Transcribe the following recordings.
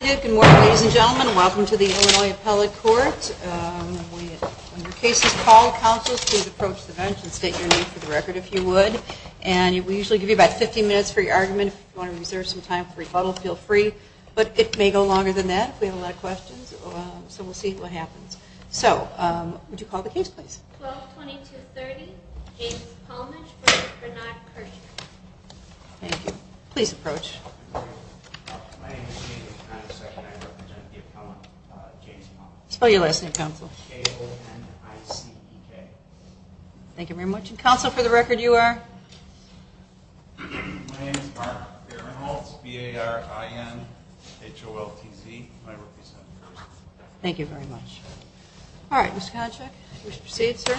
Good morning, ladies and gentlemen. Welcome to the Illinois Appellate Court. When your case is called, counsels, please approach the bench and state your name for the record, if you would. And we usually give you about 15 minutes for your argument. If you want to reserve some time for rebuttal, feel free. But it may go longer than that if we have a lot of questions. So we'll see what happens. So, would you call the case, please? 122230, James Palmich v. Bernard Kirsner. Thank you. Please approach. My name is James Palmich, and I represent the appellant, James Palmich. Spell your last name, counsel. A-O-N-I-C-E-K. Thank you very much. And, counsel, for the record, you are? My name is Mark Barinholtz, B-A-R-I-N-H-O-L-T-Z. I represent the person. Thank you very much. All right. Mr. Koncheck, would you proceed, sir?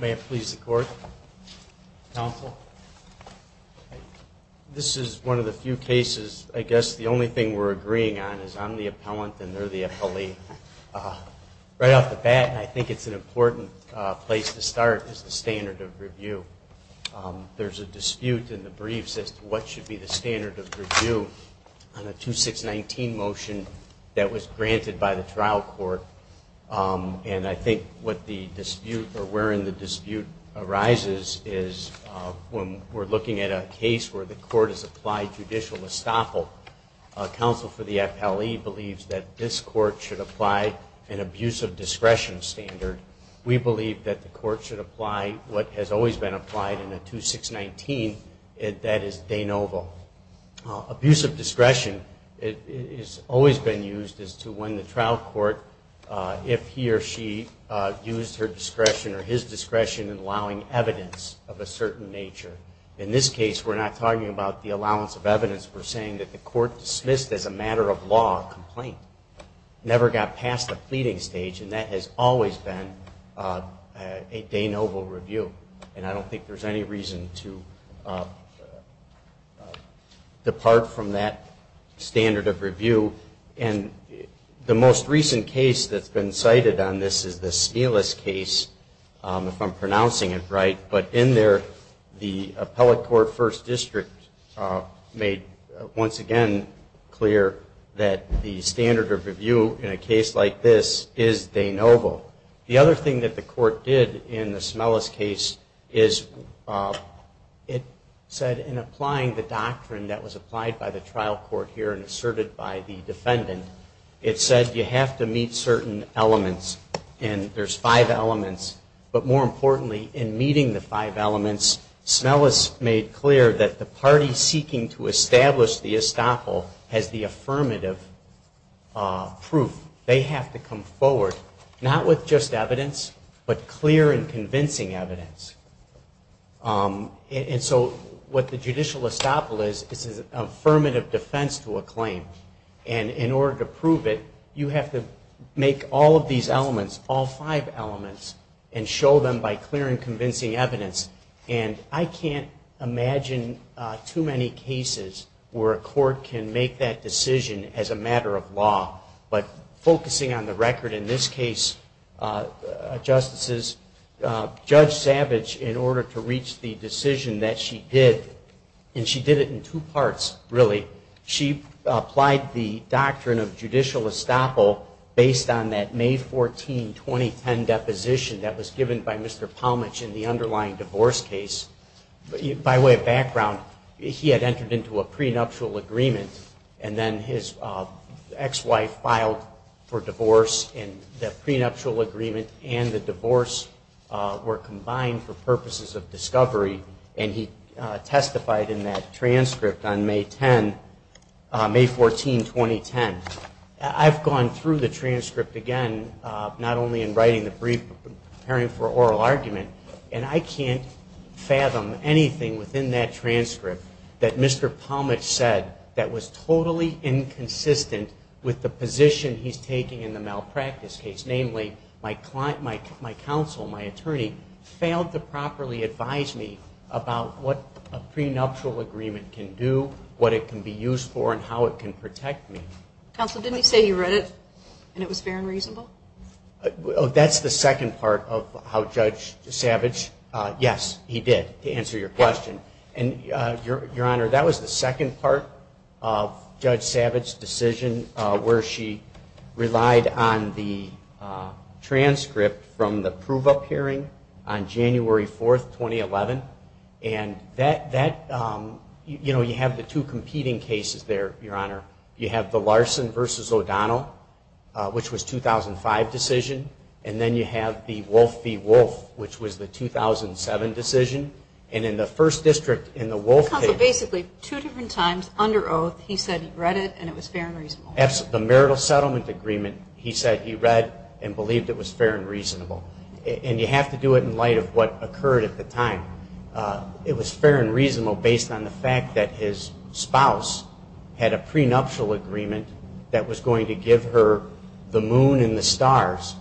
May it please the Court, counsel? This is one of the few cases, I guess, the only thing we're agreeing on is I'm the appellant and they're the appellee. Right off the bat, I think it's an important place to start, is the standard of review. There's a dispute in the briefs as to what should be the standard of review on a 2619 motion that was granted by the trial court. And I think what the dispute or wherein the dispute arises is when we're looking at a case where the court has applied judicial estoppel, counsel for the appellee believes that this court should apply an abuse of discretion standard. We believe that the court should apply what has always been applied in a 2619, and that is de novo. Abuse of discretion has always been used as to when the trial court, if he or she used her discretion or his discretion in allowing evidence of a certain nature. In this case, we're not talking about the allowance of evidence. We're saying that the court dismissed as a matter of law a complaint, never got past the pleading stage, and that has always been a de novo review. And I don't think there's any reason to depart from that standard of review. And the most recent case that's been cited on this is the Smealis case, if I'm pronouncing it right. But in there, the appellate court first district made once again clear that the standard of review in a case like this is de novo. The other thing that the court did in the Smealis case is it said in applying the doctrine that was applied by the trial court here and asserted by the defendant, it said you have to meet certain elements. And there's five elements. But more importantly, in meeting the five elements, Smealis made clear that the party seeking to establish the estoppel has the affirmative proof. They have to come forward, not with just evidence, but clear and convincing evidence. And so what the judicial estoppel is, is an affirmative defense to a claim. And in order to prove it, you have to make all of these elements, all five elements, and show them by clear and convincing evidence. And I can't imagine too many cases where a court can make that decision as a matter of law. But focusing on the record in this case, Justices, Judge Savage, in order to reach the decision that she did, and she did it in two parts, really. She applied the doctrine of judicial estoppel based on that May 14, 2010 deposition that was given by Mr. Palmich in the underlying divorce case. By way of background, he had entered into a prenuptial agreement, and then his ex-wife filed for divorce. And the prenuptial agreement and the divorce were combined for purposes of discovery. And he testified in that transcript on May 10, May 14, 2010. I've gone through the transcript again, not only in writing the brief, but preparing for oral argument. And I can't fathom anything within that transcript that Mr. Palmich said that was totally inconsistent with the position he's taking in the malpractice case. Namely, my counsel, my attorney, failed to properly advise me about what a prenuptial agreement can do, what it can be used for, and how it can protect me. Counsel, didn't he say he read it and it was fair and reasonable? That's the second part of how Judge Savage, yes, he did, to answer your question. And, Your Honor, that was the second part of Judge Savage's decision where she relied on the transcript from the prove-up hearing on January 4, 2011. And that, you know, you have the two competing cases there, Your Honor. You have the Larson v. O'Donnell, which was 2005 decision, and then you have the Wolf v. Wolf, which was the 2007 decision. And in the first district, in the Wolf case... Counsel, basically, two different times, under oath, he said he read it and it was fair and reasonable. Absolutely. The marital settlement agreement, he said he read and believed it was fair and reasonable. And you have to do it in light of what occurred at the time. It was fair and reasonable based on the fact that his spouse had a prenuptial agreement that was going to give her the moon and the stars,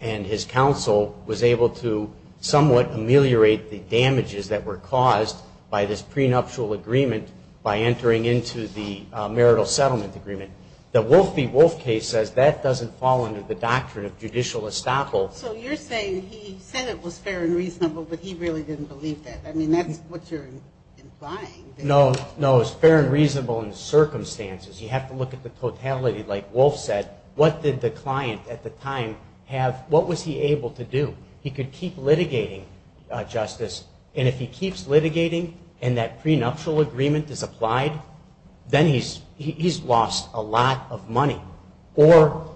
and his counsel was able to somewhat ameliorate the damage of that agreement. The damages that were caused by this prenuptial agreement by entering into the marital settlement agreement. The Wolf v. Wolf case says that doesn't fall under the doctrine of judicial estoppel. So you're saying he said it was fair and reasonable, but he really didn't believe that. I mean, that's what you're implying. No, no. It was fair and reasonable in the circumstances. You have to look at the totality. Like Wolf said, what did the client at the time have... what was he able to do? He could keep litigating justice, and if he keeps litigating and that prenuptial agreement is applied, then he's lost a lot of money. Or,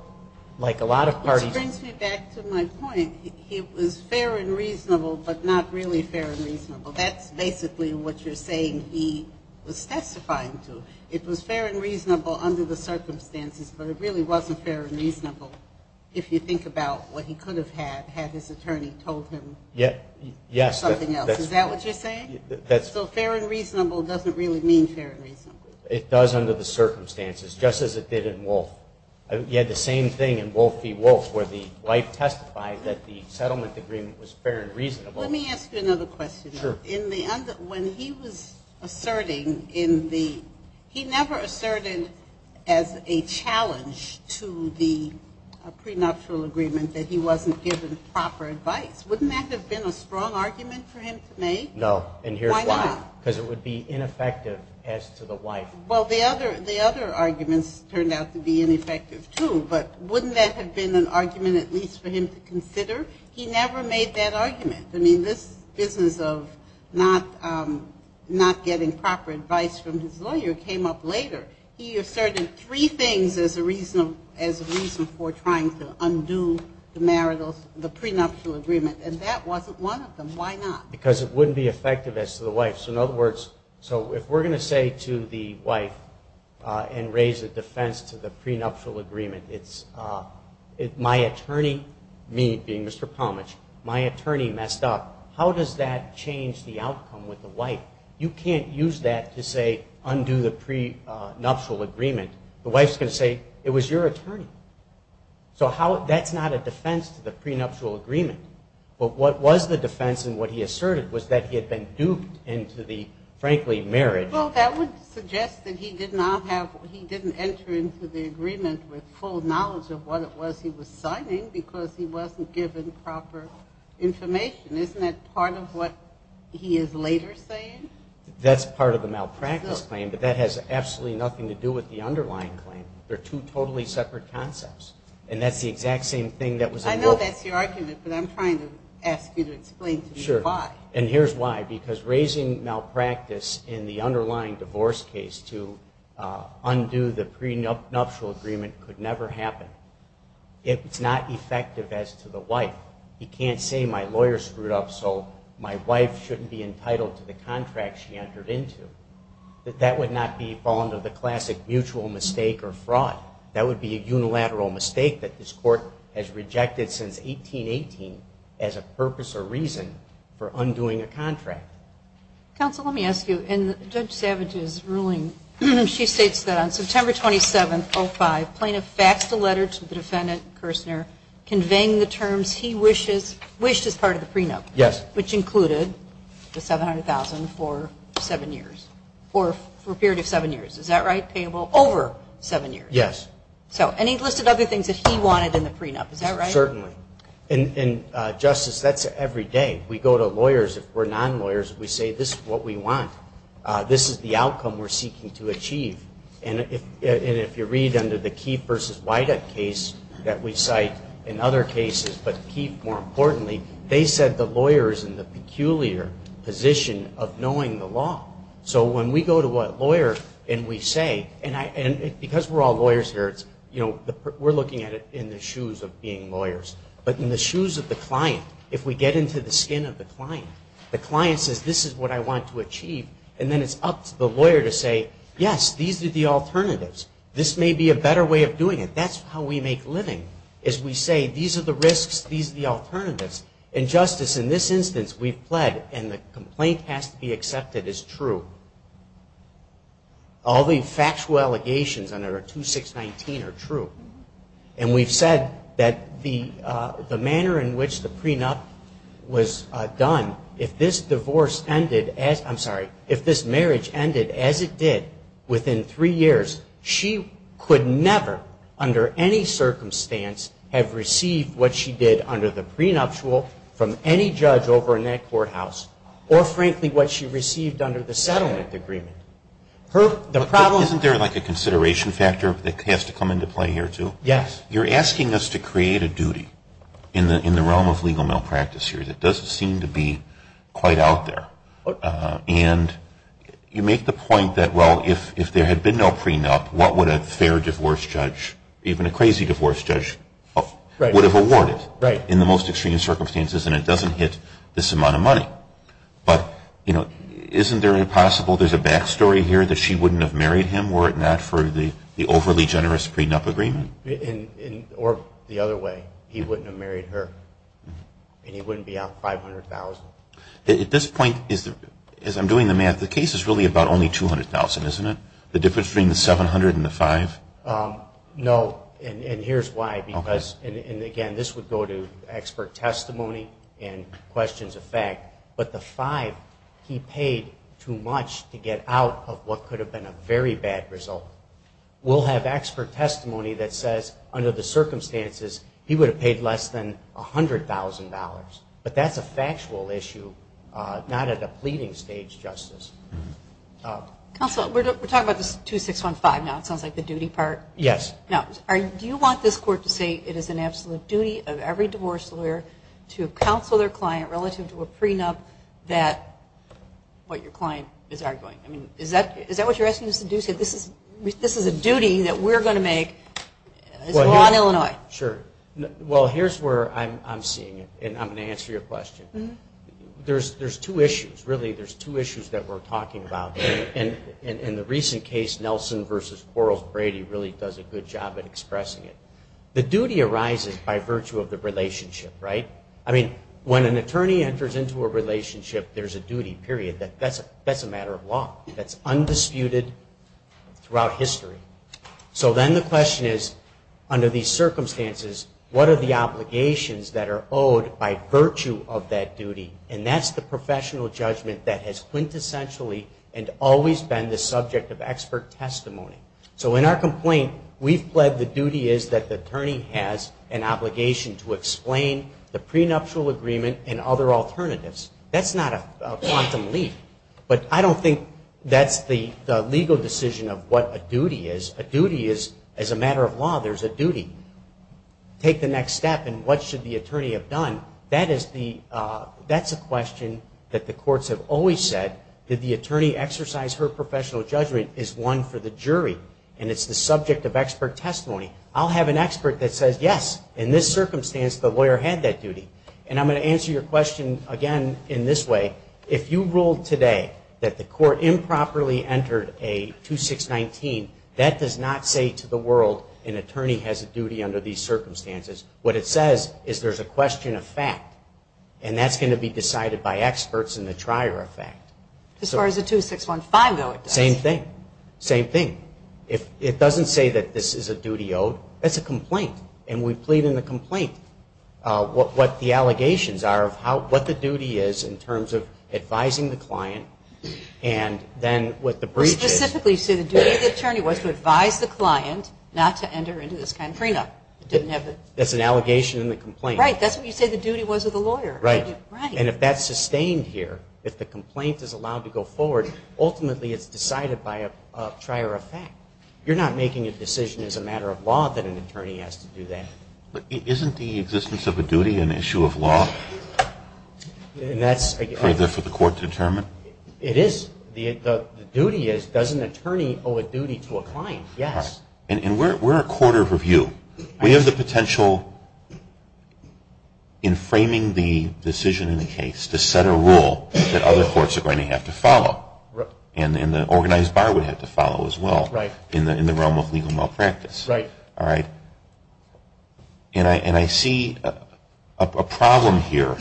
like a lot of parties... Which brings me back to my point. It was fair and reasonable, but not really fair and reasonable. That's basically what you're saying he was testifying to. It was fair and reasonable under the circumstances, but it really wasn't fair and reasonable if you think about what he could have had, had his attorney been there. If his attorney told him something else. Is that what you're saying? So fair and reasonable doesn't really mean fair and reasonable. It does under the circumstances, just as it did in Wolf. You had the same thing in Wolf v. Wolf, where the wife testified that the settlement agreement was fair and reasonable. Let me ask you another question. When he was asserting in the... he never asserted as a challenge to the prenuptial agreement that he wasn't given proper judicial estoppel. Wouldn't that have been a strong argument for him to make? No. And here's why. Why not? Because it would be ineffective as to the wife. Well, the other arguments turned out to be ineffective too, but wouldn't that have been an argument at least for him to consider? He never made that argument. I mean, this business of not getting proper advice from his lawyer came up later. He asserted three things as a reason for trying to undo the prenuptial agreement. And that wasn't one of them. Why not? Because it wouldn't be effective as to the wife. So in other words, so if we're going to say to the wife and raise a defense to the prenuptial agreement, it's my attorney, me being Mr. Palmich, my attorney messed up. How does that change the outcome with the wife? You can't use that to say undo the prenuptial agreement. The wife's going to say, it was your attorney. So that's not a defense to the prenuptial agreement. But what was the defense and what he asserted was that he had been duped into the, frankly, marriage. Well, that would suggest that he did not have, he didn't enter into the agreement with full knowledge of what it was he was signing, because he wasn't given proper information. Isn't that part of what he is later saying? That's part of the malpractice claim, but that has absolutely nothing to do with the underlying claim. They're two totally separate concepts. And that's the exact same thing that was in the... I know that's your argument, but I'm trying to ask you to explain to me why. Sure. And here's why. Because raising malpractice in the underlying divorce case to undo the prenuptial agreement could never happen. It's not effective as to the wife. He can't say my lawyer screwed up so my wife shouldn't be entitled to the contract she entered into. That would not be the fall into the classic mutual mistake or fraud. That would be a unilateral mistake that this court has rejected since 1818 as a purpose or reason for undoing a contract. Counsel, let me ask you, in Judge Savage's ruling, she states that on September 27, 05, Plano faxed a letter to the defendant, Kirsner, conveying the terms he wished as part of the prenup, which included the $700,000 for a period of seven years. Is that right? Payable over seven years? Yes. And he listed other things that he wanted in the prenup. Is that right? Certainly. And Justice, that's every day. We go to lawyers, if we're non-lawyers, we say this is what we want. This is the outcome we're seeking to achieve. And if you read under the Keefe v. Weiduck case that we cite in other cases, but Keefe more importantly, they said the lawyer is in the peculiar shoes of being lawyers. But in the shoes of the client, if we get into the skin of the client, the client says this is what I want to achieve, and then it's up to the lawyer to say, yes, these are the alternatives. This may be a better way of doing it. That's how we make living, is we say these are the risks, these are the alternatives. And Justice, in this instance, we've pled, and the complaint has to be accepted as true. All the factual allegations under 2619 are true. And we've said that the manner in which the prenup was done, if this divorce ended, I'm sorry, if this marriage ended as it did within three years, she could never under any circumstance have received what she did under the prenuptial from any judge over in that courthouse, or frankly what she received under the settlement agreement. Isn't there like a consideration factor that has to come into play here, too? Yes. You're asking us to create a duty in the realm of legal malpractice here that doesn't seem to be quite out there. And you make the point that, well, if there had been no prenup, what would a fair divorce judge, even a crazy divorce judge, would have awarded in the most extreme circumstances, and it would have cost her this amount of money. But, you know, isn't there a possible, there's a back story here that she wouldn't have married him, were it not for the overly generous prenup agreement? Or the other way, he wouldn't have married her, and he wouldn't be out $500,000. At this point, as I'm doing the math, the case is really about only $200,000, isn't it? The difference between the $700,000 and the $500,000? No, and here's why, because, and again, this would go to expert testimony and questions of the court, but I'm not going to go into that. But the $500,000, he paid too much to get out of what could have been a very bad result. We'll have expert testimony that says, under the circumstances, he would have paid less than $100,000. But that's a factual issue, not at a pleading stage, Justice. Counsel, we're talking about this 2615 now, it sounds like the duty part. Yes. Now, do you want this court to say it is an absolute duty of every divorce lawyer to counsel their client relative to a prenup that what your client is arguing? Is that what you're asking us to do? This is a duty that we're going to make as a law in Illinois? Sure. Well, here's where I'm seeing it, and I'm going to answer your question. There's two issues, really, there's two issues that we're going to have to deal with, and I'm going to do a good job at expressing it. The duty arises by virtue of the relationship, right? I mean, when an attorney enters into a relationship, there's a duty, period. That's a matter of law. That's undisputed throughout history. So then the question is, under these circumstances, what are the obligations that are owed by virtue of that duty? And that's the professional judgment that has quintessentially and always been the subject of expert testimony. So in our complaint, we've pled the duty is that the attorney has an obligation to explain the prenuptial agreement and other alternatives. That's not a quantum leap, but I don't think that's the legal decision of what a duty is. A duty is, as a matter of law, there's a duty. Take the next step, and what should the attorney have done? That is the, that's a question that the courts have always said that the attorney exercise her professional judgment is one for the jury, and it's the subject of expert testimony. I'll have an expert that says, yes, in this circumstance, the lawyer had that duty. And I'm going to answer your question again in this way. If you ruled today that the court improperly entered a 2619, that does not say to the world an attorney has a duty under these circumstances. What it says is there's a question of fact, and that's going to be decided by experts in the trier of fact. As far as the 2615, though, it does. Same thing. Same thing. If it doesn't say that this is a duty owed, that's a complaint, and we plead in the complaint what the allegations are of what the duty is in terms of advising the client, and then what the breach is. Specifically, you say the duty of the attorney was to advise the client not to enter into this kind of prenup. That's an allegation in the complaint. Right. That's what you say the duty was of the lawyer. Right. And if that's sustained here, if the complaint is allowed to go forward, ultimately it's decided by a trier of fact. You're not making a decision as a matter of law that an attorney has to do that. But isn't the existence of a duty an issue of law? For the court to determine? It is. The duty is, does an attorney owe a duty to a client? Yes. And we're a court of review. We have the potential in framing the decision in the case to set a rule that other courts are going to have to follow. And the organized bar would have to follow as well in the realm of legal malpractice. Right. All right. And I see a problem here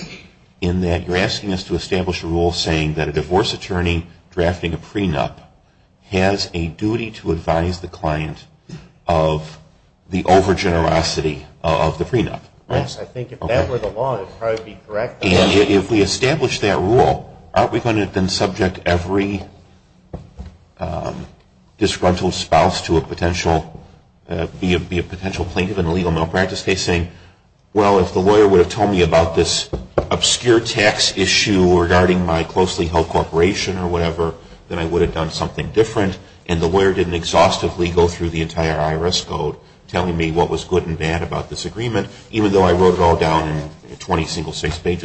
in that you're asking us to establish a rule saying that a divorce attorney drafting a prenup has a duty to advise the client of the over generosity of the prenup. Yes. I think if that were the law, that would probably be correct. And if we establish that rule, aren't we going to then subject every disgruntled spouse to a potential plaintiff in a legal malpractice case saying, well, if the lawyer would have told me about this obscure tax issue regarding my closely held corporation or whatever, then I would have done something different. And the lawyer didn't exhaustively go through the legal malpractice case to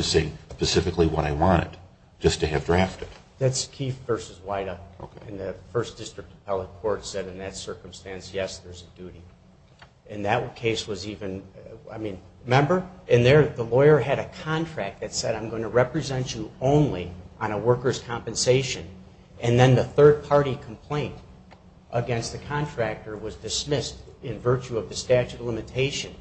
say specifically what I wanted, just to have drafted. That's Keefe v. White-Up. And the first district appellate court said in that circumstance, yes, there's a duty. And that case was even, I mean, remember? And the lawyer had a contract that said I'm going to represent you only on a worker's compensation. And then the third party complaint against the contractor was dismissed in virtue of the statute of limitation.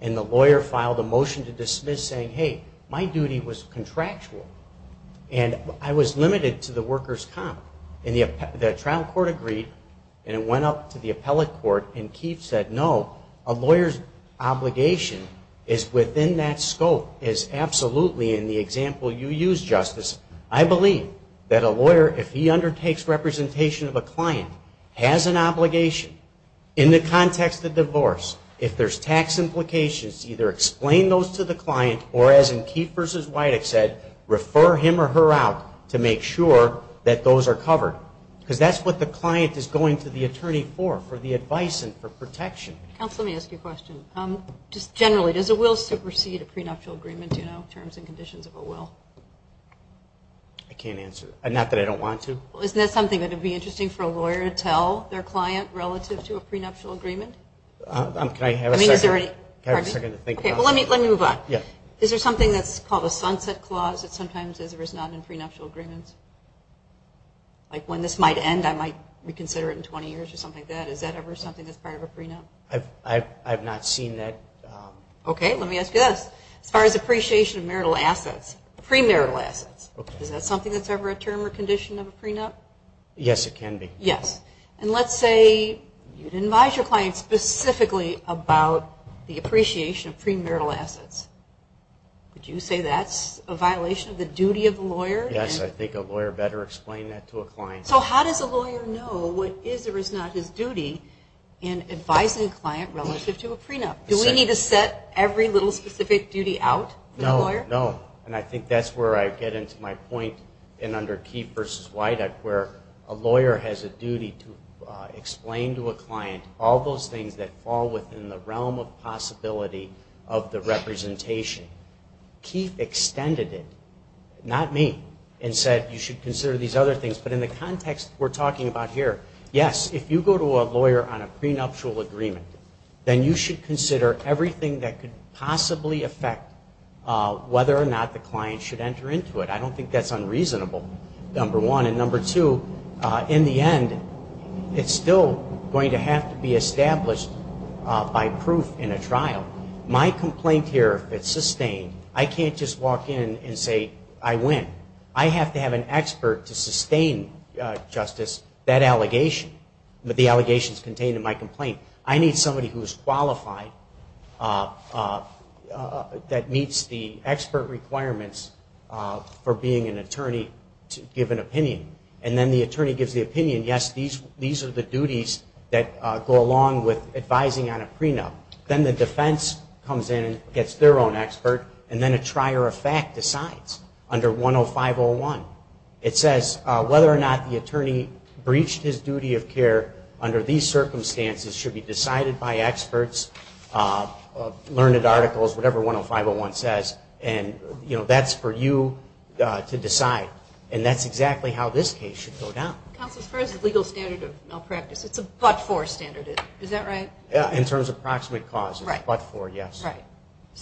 And the lawyer filed a motion to dismiss saying, hey, I'm going to represent you only on a worker's compensation. Hey, my duty was contractual. And I was limited to the worker's comp. And the trial court agreed and it went up to the appellate court and Keefe said, no, a lawyer's obligation is within that scope, is absolutely in the example you used, Justice. I believe that a lawyer, if he undertakes representation of a client, has an obligation in the case. And that's what the client is going to the attorney for, for the advice and for protection. Counsel, let me ask you a question. Just generally, does a will supersede a prenuptial agreement, you know, terms and conditions of a will? I can't answer that. Not that I don't want to. Well, isn't that something that would be interesting for a lawyer to tell their client relative to a prenuptial agreement? Can I have a second? I mean, is there any, pardon me? Can I have a second to think about that? Is there something that's called a sunset clause that sometimes is or is not in prenuptial agreements? Like when this might end, I might reconsider it in 20 years or something like that. Is that ever something that's part of a prenup? I've not seen that. Okay, let me ask you this. As far as appreciation of marital assets, premarital assets, is that something that's ever a term or condition of a prenup? Yes, it can be. Yes. And let's say you'd advise your client specifically about the appreciation of marital assets. Would you say that's a violation of the duty of the lawyer? Yes, I think a lawyer better explain that to a client. So how does a lawyer know what is or is not his duty in advising a client relative to a prenup? Do we need to set every little specific duty out for the lawyer? No, no. And I think that's where I get into my point in under Key versus Weidach, where a lawyer has a duty to explain to a client all those things that fall within the realm of possibility of the representation of a prenup. Key extended it, not me, and said you should consider these other things. But in the context we're talking about here, yes, if you go to a lawyer on a prenuptial agreement, then you should consider everything that could possibly affect whether or not the client should enter into it. I don't think that's unreasonable, number one. And number two, in the end, it's still going to have to be sustained. I can't just walk in and say I win. I have to have an expert to sustain, Justice, that allegation, the allegations contained in my complaint. I need somebody who's qualified that meets the expert requirements for being an attorney to give an opinion. And then the attorney gives the opinion, yes, these are the duties that go along with advising on a prenup. Then the attorney decides whether or not the attorney is an expert, and then a trier of fact decides under 105.01. It says whether or not the attorney breached his duty of care under these circumstances should be decided by experts, learned articles, whatever 105.01 says. And that's for you to decide. And that's exactly how this case should go down. Counsel, as far as the legal standard of malpractice, it's a but-for standard, is that right? In terms of proximate causes, but-for, yes.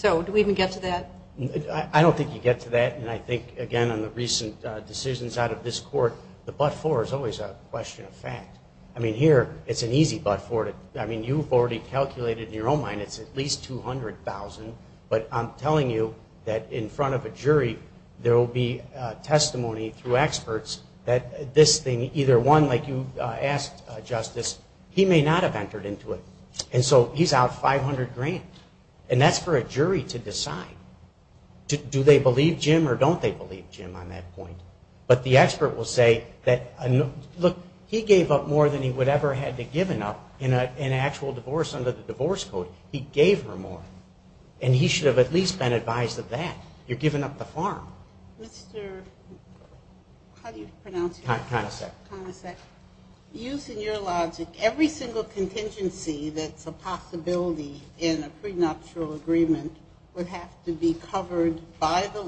I don't think you get to that. And I think, again, on the recent decisions out of this Court, the but-for is always a question of fact. I mean, here, it's an easy but-for. I mean, you've already calculated in your own mind it's at least $200,000, but I'm telling you that in front of a jury there will be testimony through experts that this thing, either one, like you asked, Justice, he may not have entered into it. And so he's out $500,000. And that's for a jury to decide. Do they believe Jim or don't they believe Jim on that point? But the expert will say that, look, he gave up more than he would ever have had to given up in an actual divorce under the divorce code. He gave her more. And he should have at least been advised of that. You're giving up the farm. Mr., how do you pronounce your name? The contingency that's a possibility in a prenuptial agreement would have to be covered by the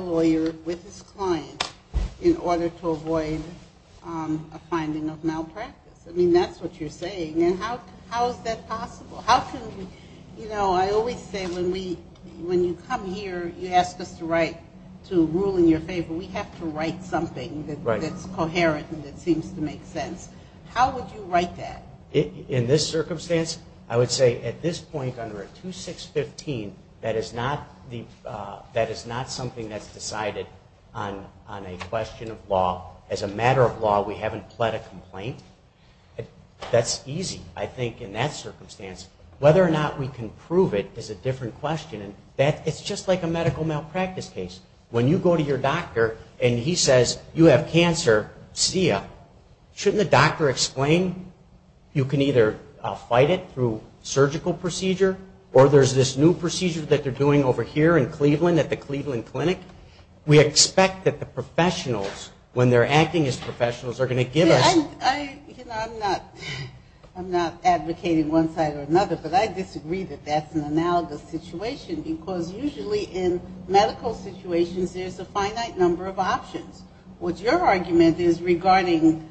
lawyer with his client in order to avoid a finding of malpractice. I mean, that's what you're saying. And how is that possible? How can we, you know, I always say when you come here, you ask us to rule in your favor. We have to write something that's coherent and that seems to make sense. How would you write that? In this circumstance, I would say at this point under a 2-6-15, that is not something that's decided on a question of law. As a matter of law, we haven't pled a complaint. That's easy, I think, in that circumstance. Whether or not we can prove it is a different question. It's just like a medical malpractice case. When you go to your doctor and he says you have cancer, SCIA, shouldn't the doctor explain you can either fight it through surgical procedure or there's this new procedure that they're doing over here in Cleveland at the Cleveland Clinic? We expect that the professionals, when they're acting as professionals, are going to give us... I'm not advocating one side or another, but I disagree that that's an analogous situation because usually in medical situations there's a finite number of options. What your argument is regarding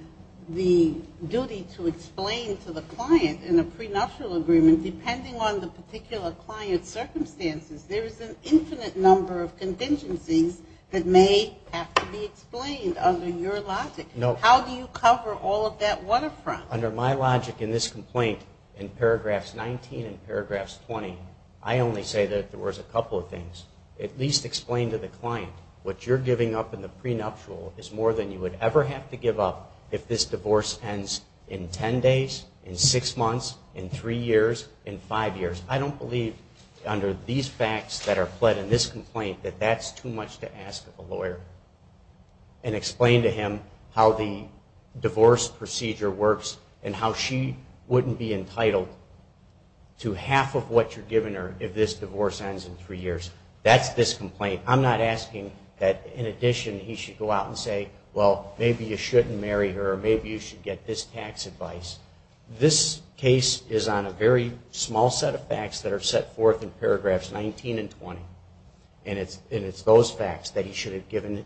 the duty to explain to the client in a prenuptial agreement, depending on the particular client's circumstances, there is an infinite number of contingencies that may have to be explained under your logic. How do you cover all of that waterfront? Under my logic in this complaint, in paragraphs 19 and paragraphs 20, I only say that there was a couple of things. At least explain to the client what you're giving up in the prenuptial is more than you would ever have to give up if this divorce ends in ten days, in six months, in three years, in five years. I don't believe under these facts that are fled in this complaint that that's too much to ask of a lawyer. And explain to him how the divorce procedure works and how she wouldn't be entitled to half of what you're giving her if this divorce ends in three years. That's this complaint. I'm not asking that in addition he should go out and say, well, maybe you shouldn't marry her or maybe you should get this tax advice. This case is on a very small set of facts that are set forth in paragraphs 19 and 20. And it's those facts that he should have given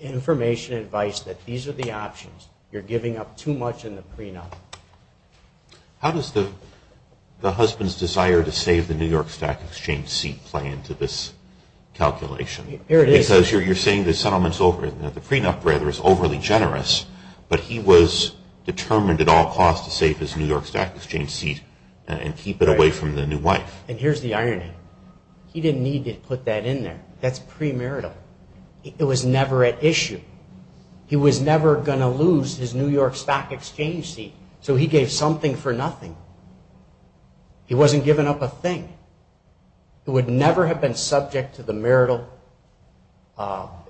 information and advice that these are the options. You're giving up too much in the prenup. How does the husband's desire to save the New York Stock Exchange seat play into this calculation? Because you're saying the prenup is overly generous, but he was determined at all costs to save his New York Stock Exchange seat and keep it away from the new wife. And here's the irony. He didn't need to put that in there. That's premarital. It was never at issue. He was never going to lose his New York Stock Exchange seat. So he gave something for nothing. He wasn't giving up a thing. It would never have been subject to the marital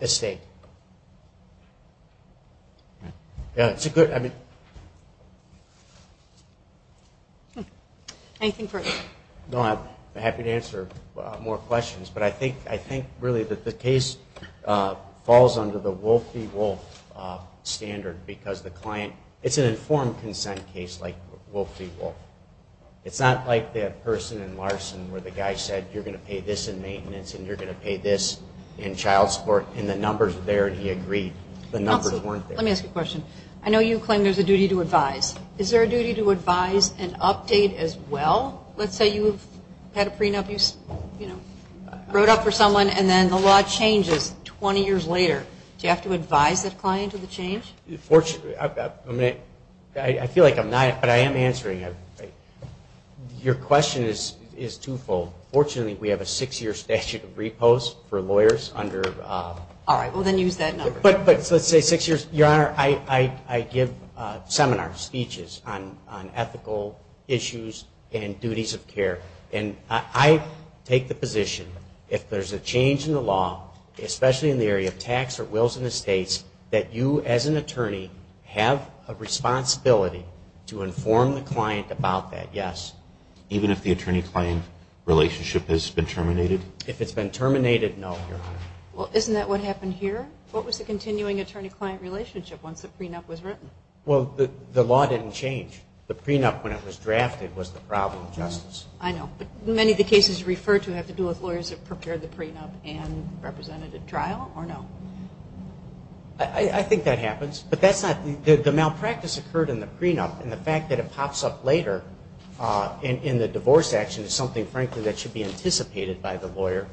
estate. Anything further? I'm happy to answer more questions, but I think really that the case falls under the Wolf v. Wolf standard because the client, it's an informed consent case like Wolf v. Wolf. It's not like that person in Larson where the guy said you're going to pay this in maintenance and you're going to pay this in child support and the numbers are there and he agreed. The numbers weren't there. Let me ask you a question. I know you claim there's a duty to advise. Is there a duty to advise and update as well? Let's say you've had a prenup, you wrote up for someone and then the law changes 20 years later. Do you have to advise that client of the change? I feel like I'm not, but I am answering. Your question is twofold. Fortunately we have a six year statute of repose for lawyers under. Let's say six years. Your Honor, I give seminars, speeches on ethical issues and duties of care and I take the position if there's a change in the law, especially in the area of tax or wills and estates, that you as an attorney have a responsibility to inform the client about that, yes. Even if the attorney-client relationship has been terminated? If it's been terminated, no. Well, isn't that what happened here? What was the continuing attorney-client relationship once the prenup was written? Well, the law didn't change. The prenup when it was drafted was the problem, Justice. I know, but many of the cases referred to have to do with lawyers that prepared the prenup and represented at trial or no? In the divorce action it's something frankly that should be anticipated by the lawyer,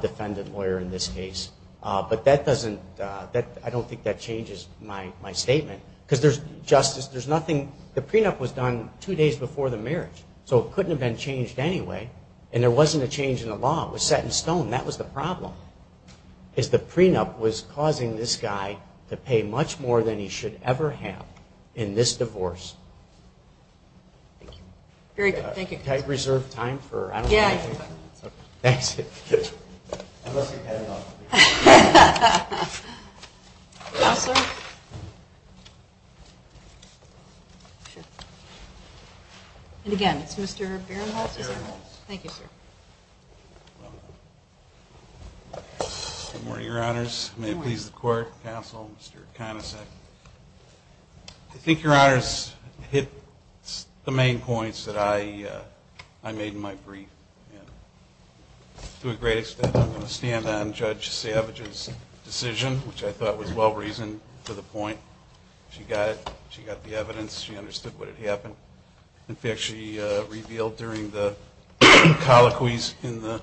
defendant lawyer in this case. But that doesn't, I don't think that changes my statement because there's, Justice, there's nothing, the prenup was done two days before the marriage so it couldn't have been changed anyway and there wasn't a change in the law. It was set in stone. That was the problem is the prenup was causing this guy to pay much more than he should ever have in this divorce. Very good, thank you. Good morning, Your Honors. May it please the Court, Counsel, Mr. Conicet. I think Your Honors hit the main points that I made in my brief. To a great extent I'm going to stand on Judge Savage's decision, which I thought was well-reasoned for the point. She got it. She got the evidence. She understood what had happened. In fact, she revealed during the colloquies in the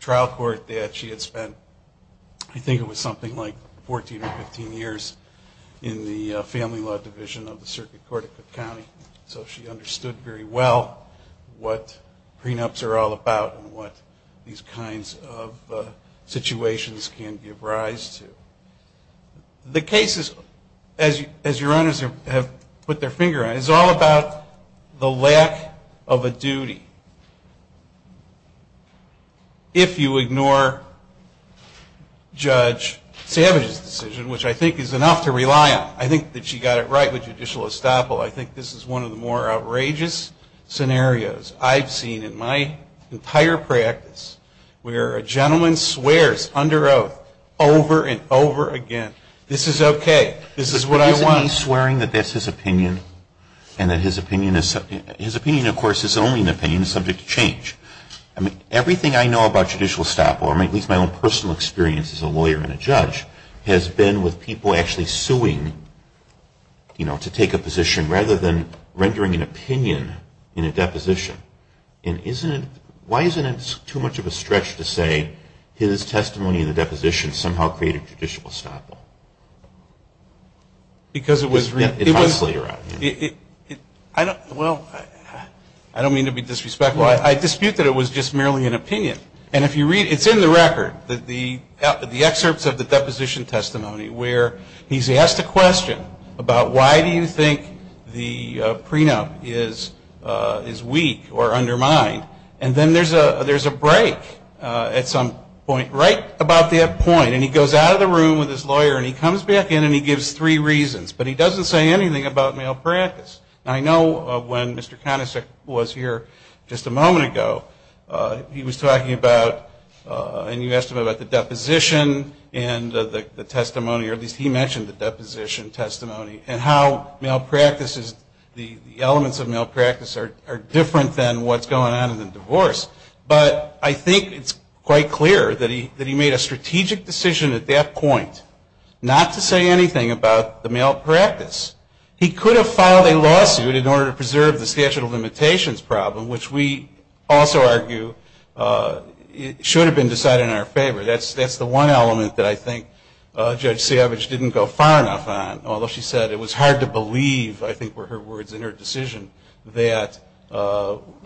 trial court that she had spent, I think it was something like 14 or 15 years in the Family Law Division of the Circuit Court of Cook County. So she understood very well what prenups are all about and what these kinds of situations can give rise to. The case is, as Your Honors have put their finger on, is all about the lack of a duty. If you ignore Judge Savage's decision, which I think is enough to rely on, I think that she got it right with judicial estoppel, I think this is one of the more outrageous scenarios I've seen in my entire practice, where a gentleman swears under oath over and over again, this is okay, this is what I want. But isn't he swearing that that's his opinion and that his opinion, of course, is only an opinion subject to change? I mean, everything I know about judicial estoppel, at least my own personal experience as a lawyer and a judge, has been with people actually suing, you know, to take a position rather than rendering an opinion in a deposition. And isn't it, why isn't it too much of a stretch to say his testimony in the deposition somehow created judicial estoppel? Because it was... Well, I don't mean to be disrespectful. I dispute that it was just merely an opinion. And if you read, it's in the record, the excerpts of the deposition testimony, where he's asked a question about why do you think the prenup is weak or undermined, and then there's a break at some point, right about that point, and he goes out of the room with his lawyer and he comes back in and he gives three reasons, but he doesn't say anything about malpractice. And I know when Mr. Conisic was here just a moment ago, he was talking about, and you asked him about the deposition and the testimony, or at least he mentioned the deposition testimony, and how malpractice is, the elements of malpractice are different than what's going on in the divorce. But I think it's quite clear that he made a strategic decision at that point not to say anything about the malpractice. He could have filed a lawsuit in order to preserve the statute of limitations problem, which we also argue should have been decided in our favor. That's the one element that I think Judge Savage didn't go far enough on, although she said it was hard to believe, I think were her words in her decision, that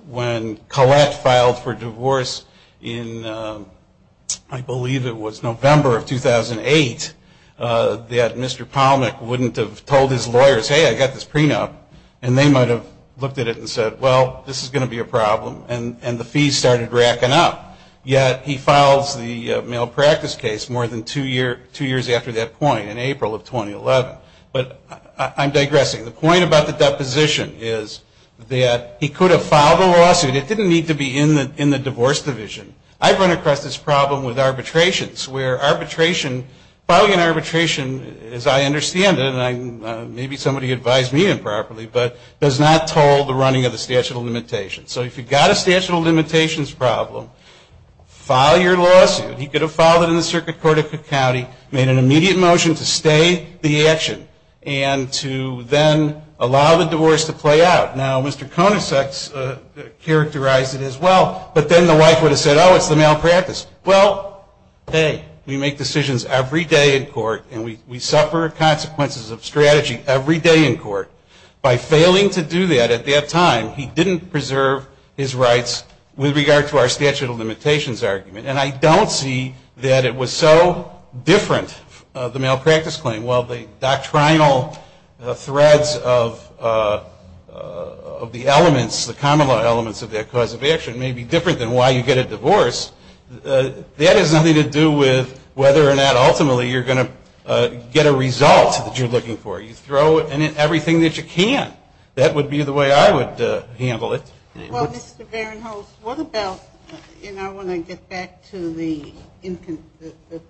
when Collette filed for divorce in, I believe it was November of 2008, that Mr. Palnick wouldn't have told his lawyers, hey, I got this prenup, and they might have looked at it and said, well, this is going to be a problem, and the fees started racking up. Yet he files the malpractice case more than two years after that point, in April of 2011. But I'm digressing. The point about the deposition is that he could have filed a lawsuit. It didn't need to be in the divorce division. I've run across this problem with arbitrations, where arbitration, filing an arbitration, as I understand it, and maybe somebody advised me improperly, but there's a problem with arbitration, does not toll the running of the statute of limitations. So if you've got a statute of limitations problem, file your lawsuit. He could have filed it in the circuit court of the county, made an immediate motion to stay the action, and to then allow the divorce to play out. Now, Mr. Konasek's characterized it as well, but then the wife would have said, oh, it's the malpractice. Well, hey, we make decisions every day in court, and we suffer consequences of strategy every day in court. By failing to do that at that time, he didn't preserve his rights with regard to our statute of limitations argument. And I don't see that it was so different, the malpractice claim, while the doctrinal threads of the elements, the common law elements of that cause of action may be different than why you get a divorce. That has nothing to do with whether or not ultimately you're going to get a result that you're going to get a result that you can't. That would be the way I would handle it. Well, Mr. Behrenholz, what about, you know, when I get back to the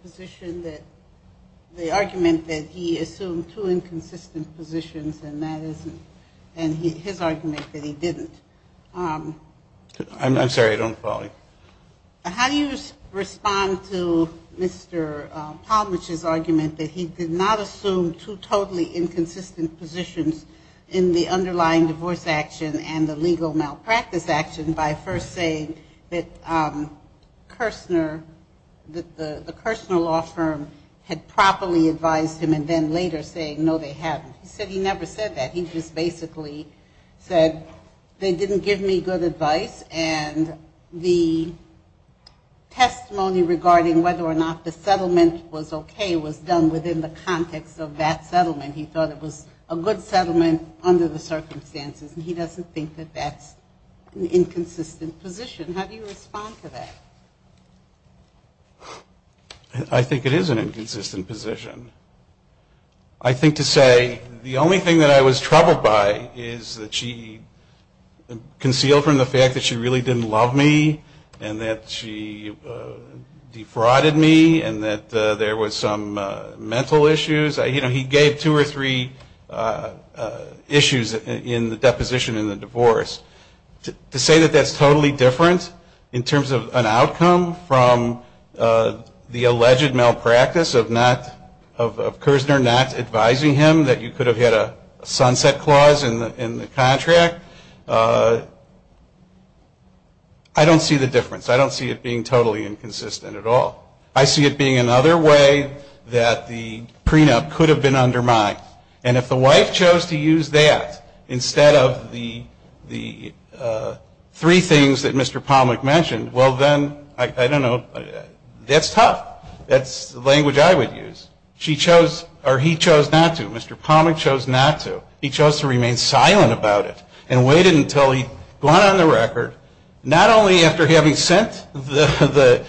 position that the argument that he assumed two inconsistent positions, and that isn't, and his argument that he didn't. I'm sorry, I don't follow you. How do you respond to Mr. Palmich's argument that he did not assume two totally inconsistent positions in the underlying divorce action and the legal malpractice action by first saying that Kirsner, that the Kirsner law firm had properly advised him and then later saying, no, they hadn't. He said he never said that. He just basically said, they didn't give me good advice, and the testimony regarding whether or not the settlement was okay was done within the context of that settlement. He thought it was a good settlement under the circumstances, and he doesn't think that that's an inconsistent position. How do you respond to that? I think it is an inconsistent position. I think to say the only thing that I was troubled by is that she concealed from the fact that she really didn't love me, and that she defrauded me, and that there was some mental issues. You know, he gave two or three issues in the deposition in the divorce. To say that that's totally different in terms of an outcome from the alleged malpractice of not, of Kirsner not advising him that you could have had a sunset clause in the contract, I don't think that's consistent. I don't see the difference. I don't see it being totally inconsistent at all. I see it being another way that the prenup could have been undermined, and if the wife chose to use that instead of the three things that Mr. Palmeck mentioned, well, then, I don't know, that's tough. That's the language I would use. She chose, or he chose not to, Mr. Palmeck chose not to. He chose to remain silent about it, and waited until he'd gone on the record, not only after having sent the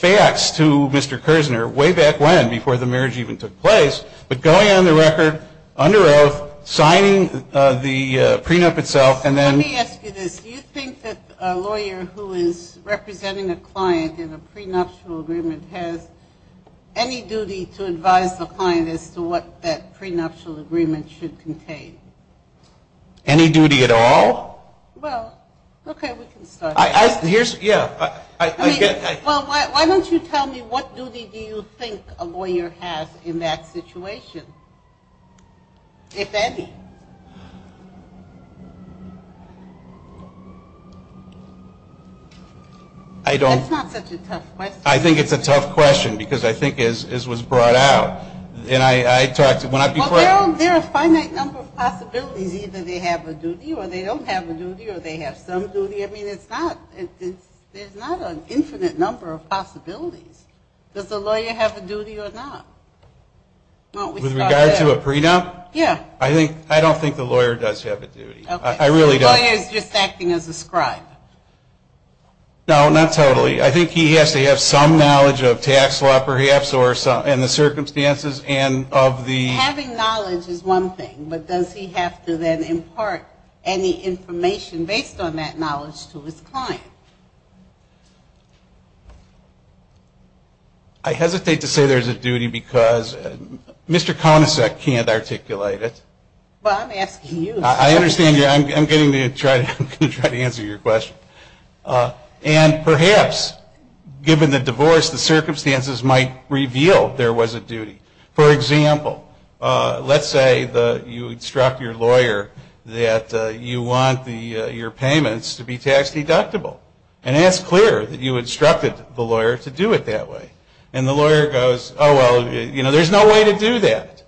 facts to Mr. Kirsner way back when, before the marriage even took place, but going on the record, under oath, signing the prenup itself, and then Let me ask you this. Do you think that a lawyer who is representing a client in a prenuptial agreement has any duty to advise the client on what the agreement should contain? Any duty at all? Well, okay, we can start. Here's, yeah. Well, why don't you tell me what duty do you think a lawyer has in that situation, if any? That's not such a tough question. I think it's a tough question, because I was brought out, and I talked, when I before Well, there are a finite number of possibilities. Either they have a duty, or they don't have a duty, or they have some duty. I mean, it's not, there's not an infinite number of possibilities. Does the lawyer have a duty or not? With regard to a prenup? Yeah. I think, I don't think the lawyer does have a duty. I really don't. Okay. So the lawyer is just acting as a scribe? No, not totally. I think he has to have some knowledge of tax law, perhaps, or some, you know, some circumstances, and of the Having knowledge is one thing, but does he have to then impart any information based on that knowledge to his client? I hesitate to say there's a duty, because Mr. Conicek can't articulate it. Well, I'm asking you. I understand you. I'm getting to try to answer your question. And perhaps, given the divorce, the circumstances might reveal there was a duty, for example, let's say you instruct your lawyer that you want your payments to be tax-deductible, and ask clear that you instructed the lawyer to do it that way. And the lawyer goes, oh, well, you know, there's no way to do that.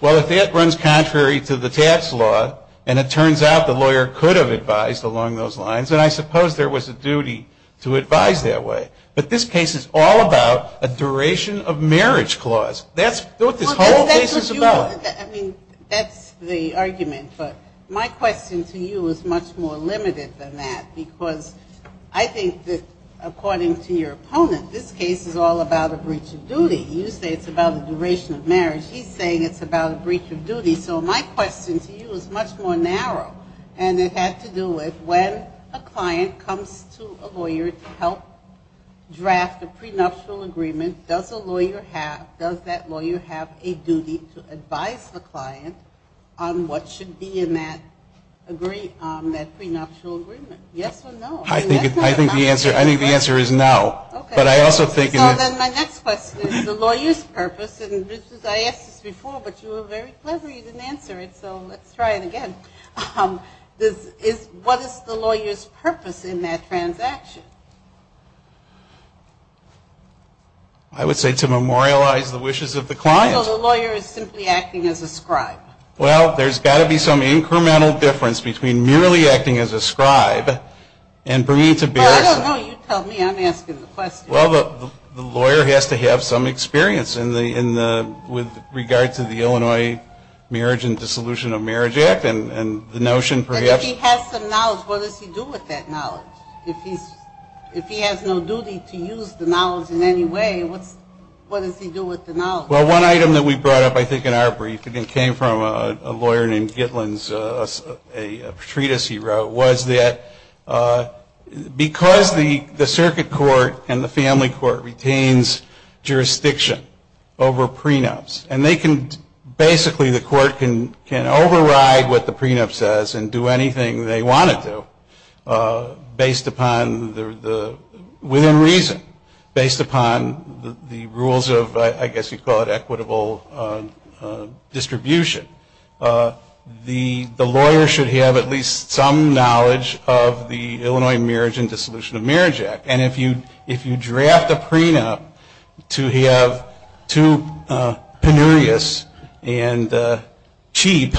Well, if that runs contrary to the tax law, and it turns out the lawyer could have advised along those lines, then I suppose there was a duty to advise that way. But this case is all about a duration of marriage clause. That's what this whole case is about. I mean, that's the argument. But my question to you is much more limited than that, because I think that, according to your opponent, this case is all about a breach of duty. You say it's about a duration of marriage. He's saying it's about a breach of duty. So my question to you is much more narrow, and it had to do with when a client comes to a lawyer to help him or her. So when you draft a prenuptial agreement, does a lawyer have, does that lawyer have a duty to advise the client on what should be in that agreement, that prenuptial agreement? Yes or no? I think the answer is no, but I also think... So then my next question is the lawyer's purpose, and I asked this before, but you were very clever, you didn't answer it, so let's try it again. What is the lawyer's purpose in that transaction? I would say to memorialize the wishes of the client. So the lawyer is simply acting as a scribe. Well, there's got to be some incremental difference between merely acting as a scribe and bringing to bear... And if he has some knowledge, what does he do with that knowledge? If he has no duty to use the knowledge in any way, what does he do with the knowledge? Well, one item that we brought up, I think, in our brief, and it came from a lawyer named Gitlin's treatise he wrote, was that because the circuit court and the family court retains jurisdiction over prenups, and they can basically, the court can override what the prenup says and do anything they want it to based upon, within reason, based upon the rules of, I guess you'd call it equitable distribution, the lawyer should have at least some knowledge of the Illinois Marriage and Dissolution of Marriage Act. And if you draft a prenup to have too penurious and cheap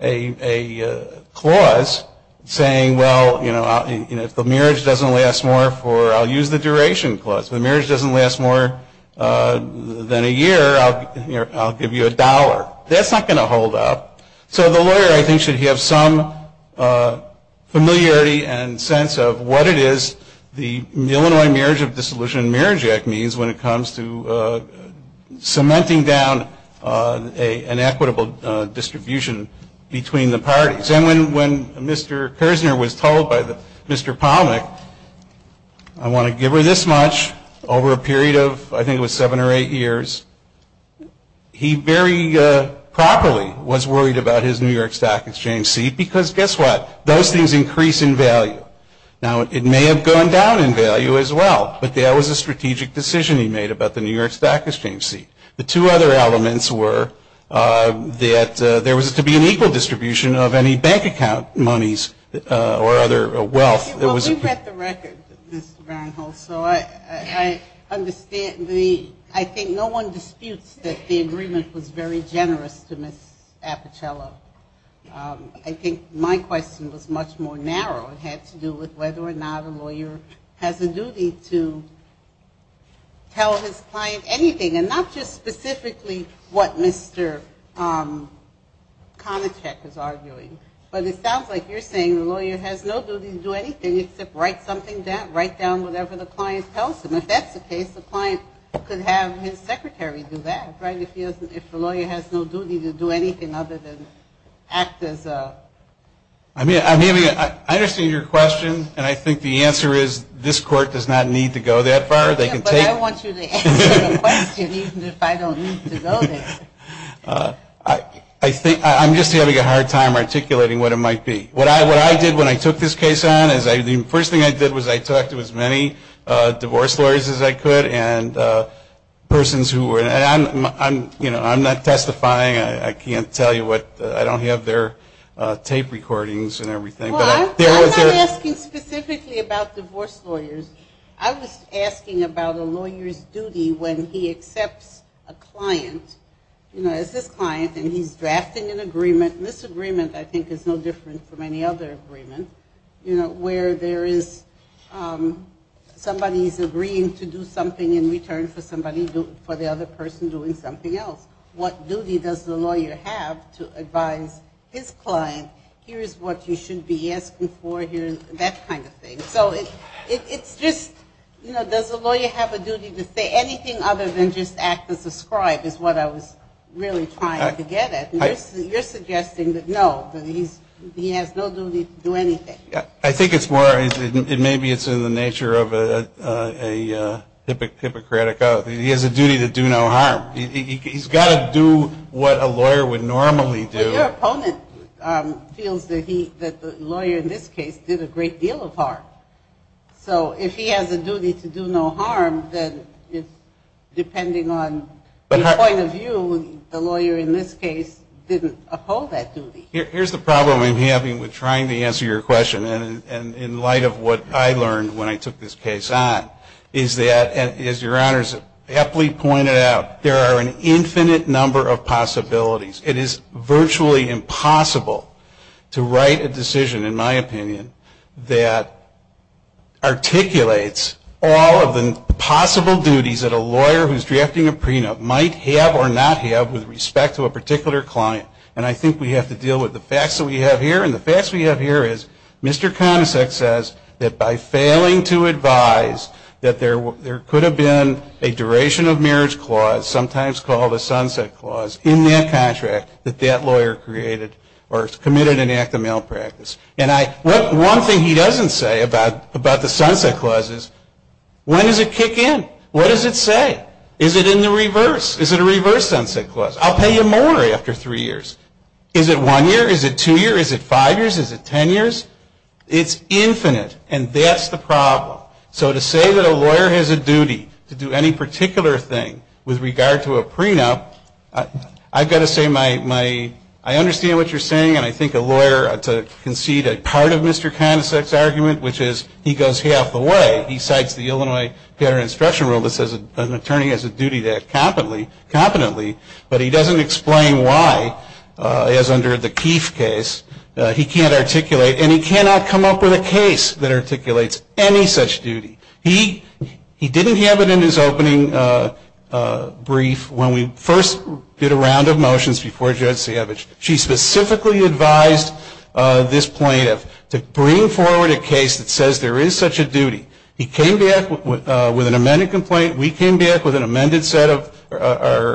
a solution, it's not going to work. You can't have the clause saying, well, you know, if the marriage doesn't last more for, I'll use the duration clause. If the marriage doesn't last more than a year, I'll give you a dollar. That's not going to hold up. So the lawyer, I think, should have some familiarity and sense of what it is the Illinois Marriage and Dissolution of Marriage Act means when it comes to cementing down an equitable distribution between the parties. And when Mr. Kersner was told by Mr. Palmik, I want to give her this much over a period of, I think it was seven or eight years, he very properly was worried about his New York Stock Exchange seat, because guess what? Those things increase in value. Now, it may have gone down in value as well, but that was a strategic decision he made about the New York Stock Exchange seat. The two other elements were that there was to be an equal distribution of any of the parties. And the bank account moneys or other wealth that was at the time. Well, we've got the record, Mr. Varenholst, so I understand the, I think no one disputes that the agreement was very generous to Ms. Apocello. I think my question was much more narrow. It had to do with whether or not a lawyer has a duty to tell his client anything, and not just specifically what Mr. Konacek is arguing, but whether or not a lawyer has a duty to tell his client anything. But it sounds like you're saying the lawyer has no duty to do anything except write something down, write down whatever the client tells him. If that's the case, the client could have his secretary do that, right, if the lawyer has no duty to do anything other than act as a... I mean, I understand your question, and I think the answer is this court does not need to go that far. They can take it. But I want you to answer the question, even if I don't need to go there. I'm just having a hard time articulating what it might be. What I did when I took this case on, the first thing I did was I talked to as many divorce lawyers as I could, and persons who were, and I'm not testifying, I can't tell you what, I don't have their tape recordings and everything. I'm not asking specifically about divorce lawyers. I was asking about a lawyer's duty when he accepts a client, you know, as his client, and he's drafting an agreement, and this agreement I think is no different from any other agreement, you know, where there is somebody's agreeing to do something in return for the other person doing something else. What duty does the lawyer have to advise his client, here's what you should be asking for, here's that kind of thing. So it's just, you know, does the lawyer have a duty to say anything other than just act as a scribe is what I was really trying to get at. You're suggesting that no, that he has no duty to do anything. I think it's more, maybe it's in the nature of a Hippocratic oath. He has a duty to do no harm. He's got to do what a lawyer would do, and the lawyer in this case did a great deal of harm. So if he has a duty to do no harm, then it's depending on the point of view, the lawyer in this case didn't uphold that duty. Here's the problem I'm having with trying to answer your question, and in light of what I learned when I took this case on, is that, as your Honor's aptly pointed out, there are an infinite number of possibilities. It is virtually impossible to write a decision that is in my opinion, that articulates all of the possible duties that a lawyer who's drafting a prenup might have or not have with respect to a particular client. And I think we have to deal with the facts that we have here, and the facts we have here is Mr. Conacec says that by failing to advise that there could have been a duration of marriage clause, sometimes called a sunset clause, in that contract that that would have been a denial of practice. And one thing he doesn't say about the sunset clause is, when does it kick in? What does it say? Is it in the reverse? Is it a reverse sunset clause? I'll pay you more after three years. Is it one year? Is it two years? Is it five years? Is it ten years? It's infinite, and that's the problem. So to say that a lawyer has a duty to do any particular thing with regard to a client, that's a conceded part of Mr. Conacec's argument, which is he goes half the way. He cites the Illinois Paternal Instruction Rule that says an attorney has a duty to act competently, but he doesn't explain why, as under the Keefe case. He can't articulate, and he cannot come up with a case that articulates any such duty. He didn't have it in his opening brief when we first did a round of motions before Judge Katsayevich. She specifically advised this plaintiff to bring forward a case that says there is such a duty. He came back with an amended complaint. We came back with an amended set of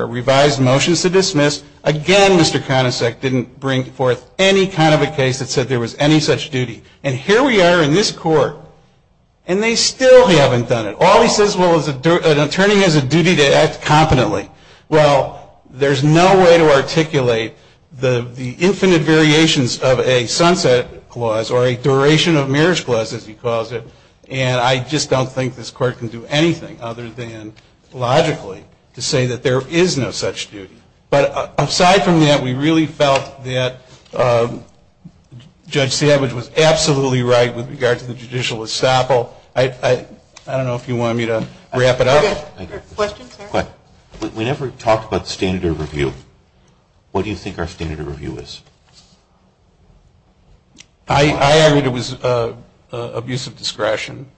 revised motions to dismiss. Again, Mr. Conacec didn't bring forth any kind of a case that said there was any such duty. And here we are in this Court, and they still haven't done it. All he says, well, an attorney has a duty to act competently. He doesn't have the infinite variations of a sunset clause or a duration of marriage clause, as he calls it. And I just don't think this Court can do anything other than logically to say that there is no such duty. But aside from that, we really felt that Judge Katsayevich was absolutely right with regard to the judicial estoppel. I don't know if you want me to wrap it up. We never talked about standard of review. What do you think our standard of review is? I argued it was abuse of discretion.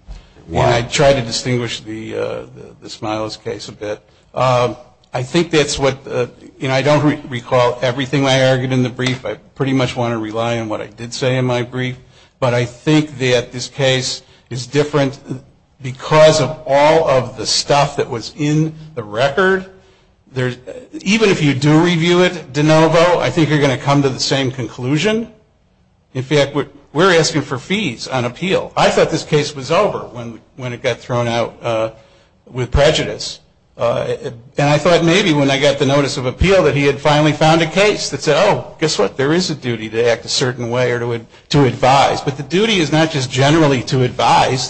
And I tried to distinguish the Smiles case a bit. I think that's what, you know, I don't recall everything I argued in the brief. I pretty much want to rely on what I did say in my brief. But I think that this case is different because of all of the stuff that was in the record. Even if you do review it de novo, I think you're going to come to the same conclusion. In fact, we're asking for fees on appeal. I thought this case was over when it got thrown out with prejudice. And I thought maybe when I got the notice of appeal that he had finally found a case that said, oh, guess what, there is a duty to act a certain way. And that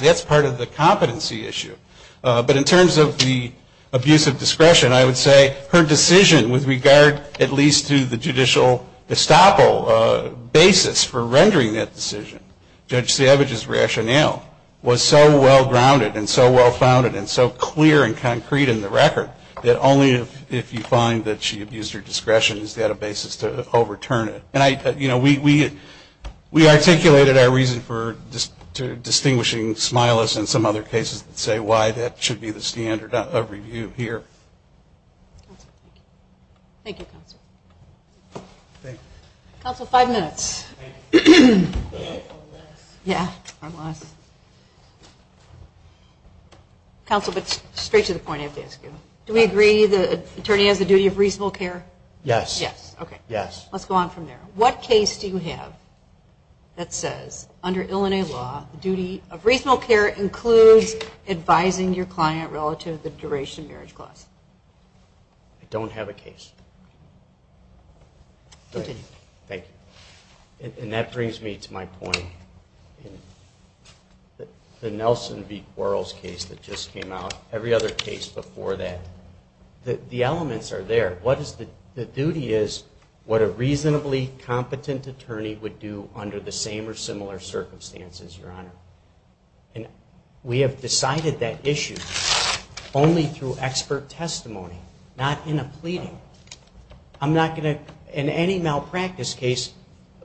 was part of the competency issue. But in terms of the abuse of discretion, I would say her decision with regard at least to the judicial estoppel basis for rendering that decision, Judge Katsayevich's rationale, was so well-grounded and so well-founded and so clear and concrete in the record that only if you find that she abused her discretion has she had a basis to overturn it. And I, you know, we articulated our reason for distinguishing Smiles and the Smiles case. And I think we have some other cases that say why that should be the standard of review here. Thank you, Counsel. Counsel, five minutes. Counsel, but straight to the point I have to ask you. Do we agree the attorney has the duty of reasonable care? Yes. Okay. Let's go on from there. What case do you have that says under Illinois law the duty of reasonable care includes advising your client relative to the duration of marriage clause? I don't have a case. Thank you. And that brings me to my point. The Nelson v. Quarles case that just came out, every other case before that, the elements are there. The duty is what a reasonably competent attorney would do under the same or similar circumstances, Your Honor. And we have decided that issue only through expert testimony, not in a pleading. I'm not going to, in any malpractice case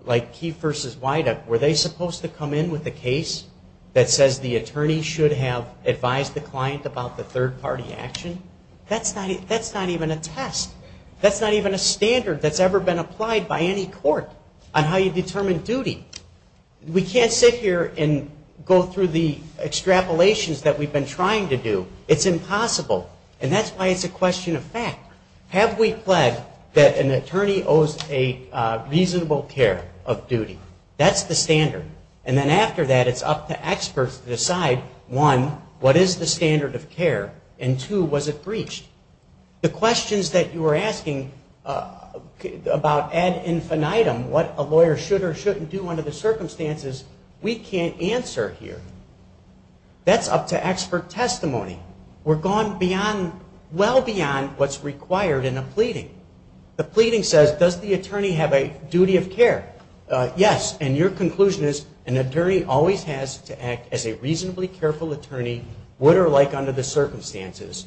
like Keefe v. Weiduck, were they supposed to come in with a case that says the attorney should have advised the client about the third-party action? That's not even a test. That's not even a standard that's ever been applied by any court on how you determine duty. We can't sit here and go through the extrapolations that we've been trying to do. It's impossible. And that's why it's a question of fact. Have we pledged that an attorney owes a reasonable care of duty? That's the standard. And then after that, it's up to experts to decide, one, what is the standard of care, and two, was it breached? The questions that you were asking about ad infinitum, what a lawyer should or shouldn't do under the circumstances, we can't answer here. That's up to expert testimony. We're gone beyond, well beyond what's required in a pleading. The pleading says, does the attorney have a duty of care? Yes. And your conclusion is an attorney always has to act as a reasonably careful attorney, would or like under the circumstances.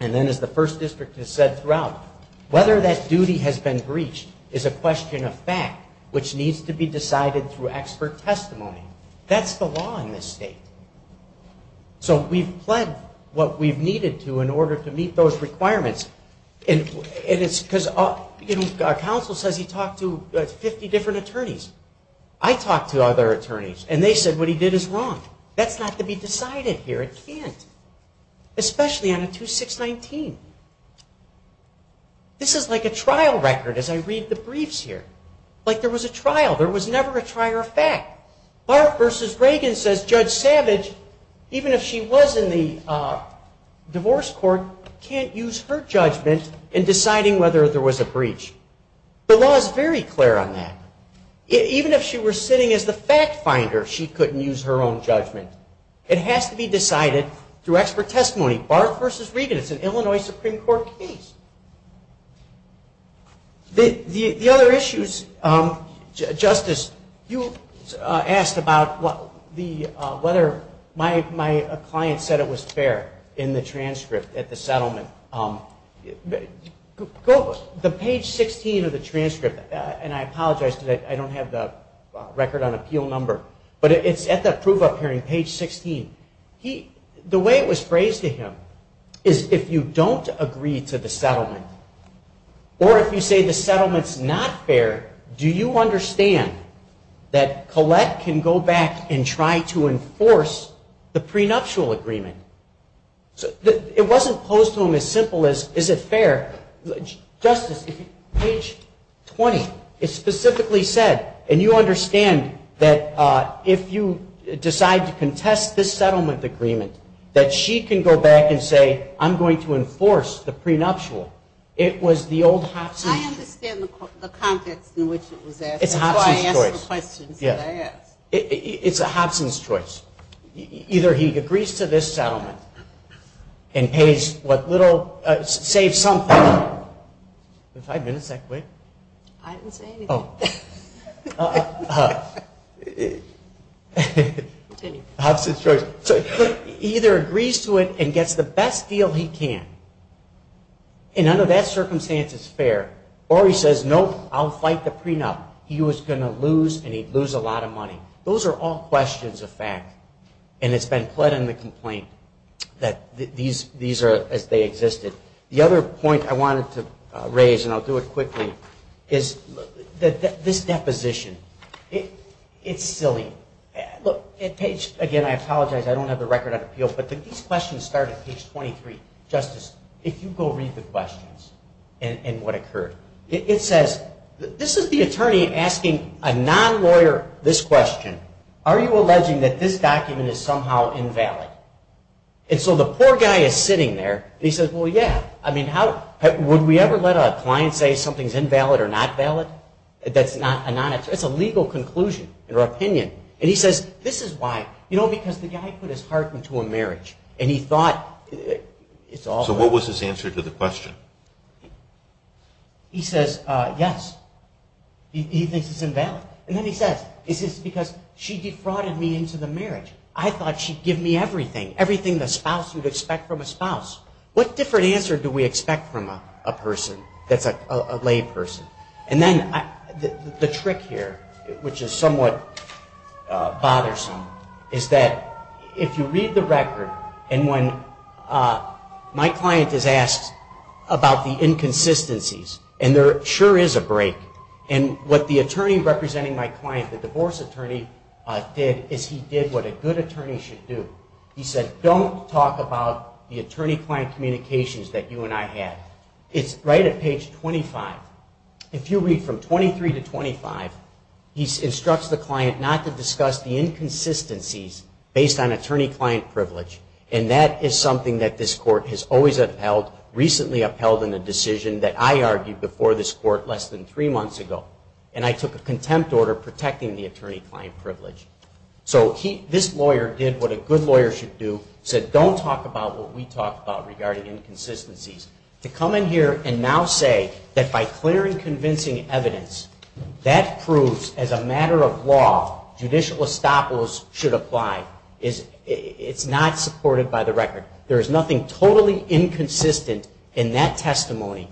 And then as the First District has said throughout, whether that duty has been breached is a matter of fact, which needs to be decided through expert testimony. That's the law in this state. So we've pledged what we've needed to in order to meet those requirements. And it's because, you know, counsel says he talked to 50 different attorneys. I talked to other attorneys, and they said what he did is wrong. That's not to be decided here. It can't. Especially on a 2619. This is like a trial. There was never a trial or fact. Barth v. Reagan says Judge Savage, even if she was in the divorce court, can't use her judgment in deciding whether there was a breach. The law is very clear on that. Even if she was sitting as the fact finder, she couldn't use her own judgment. It has to be decided through expert testimony. Barth v. Reagan, it's an Illinois Supreme Court case. The other issues, Justice, you asked about whether my client said it was fair in the transcript at the settlement. The page 16 of the transcript, and I apologize because I don't have the record on appeal number, but it's at the proof appearing, page 16. The way it was phrased to him is if you don't agree to the settlement, or if you say the settlement's not fair, do you understand that Collette can go back and try to enforce the prenuptial agreement? It wasn't posed to him as simple as is it fair. Justice, page 20, it specifically said, and you understand that if you decide to use your own judgment, if you decide to contest this settlement agreement, that she can go back and say I'm going to enforce the prenuptial. It was the old Hobson. I understand the context in which it was asked. It's a Hobson's choice. It's a Hobson's choice. Either he agrees to this settlement and pays what little, saves something. Five minutes, that quick? I didn't say Hobson's choice. Either he agrees to it and gets the best deal he can, and under that circumstance it's fair, or he says, nope, I'll fight the prenup. He was going to lose and he'd lose a lot of money. Those are all questions of fact, and it's been pled in the complaint that these are as they existed. The other point I wanted to raise, and I'll do it quickly, is this deposition. It's silly. Look, at page, again, I apologize, I don't have the record on appeal, but these questions start at page 23. Justice, if you go read the questions and what occurred. It says, this is the attorney asking a non-lawyer this question, are you alleging that this document is somehow invalid? And so the poor guy is sitting there and he says, well, yeah, I mean, would we ever let a client say something's invalid or not valid? That's a legal conclusion or opinion. And he says, this is why. You know, because the guy put his heart into a marriage, and he thought it's all valid. So what was his answer to the question? He says, yes, he thinks it's invalid. And then he says, it's because she defrauded me into the marriage. I thought she'd give me everything, everything the spouse would expect from a spouse. What different answer do we expect from a person that's a lay person? And then the trick here, which is somewhat bothersome, is that if you read the record, and when my client is asked about the inconsistencies, and there sure is a break, and what the attorney representing my client, the divorce attorney, did is he did what a good attorney should do. He said, don't talk about the inconsistencies that you and I had. It's right at page 25. If you read from 23 to 25, he instructs the client not to discuss the inconsistencies based on attorney-client privilege. And that is something that this court has always upheld, recently upheld in a decision that I argued before this court less than three months ago. And I took a contempt order protecting the attorney-client privilege. So this lawyer did what a good lawyer should do, said, don't talk about what we talked about regarding inconsistencies, to come in here and now say that by clear and convincing evidence, that proves as a matter of law, judicial estoppels should apply. It's not supported by the record. There is nothing totally inconsistent in that testimony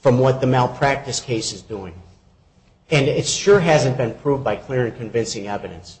from what the malpractice case is doing. And it sure hasn't been proved by clear and convincing evidence. Thank you.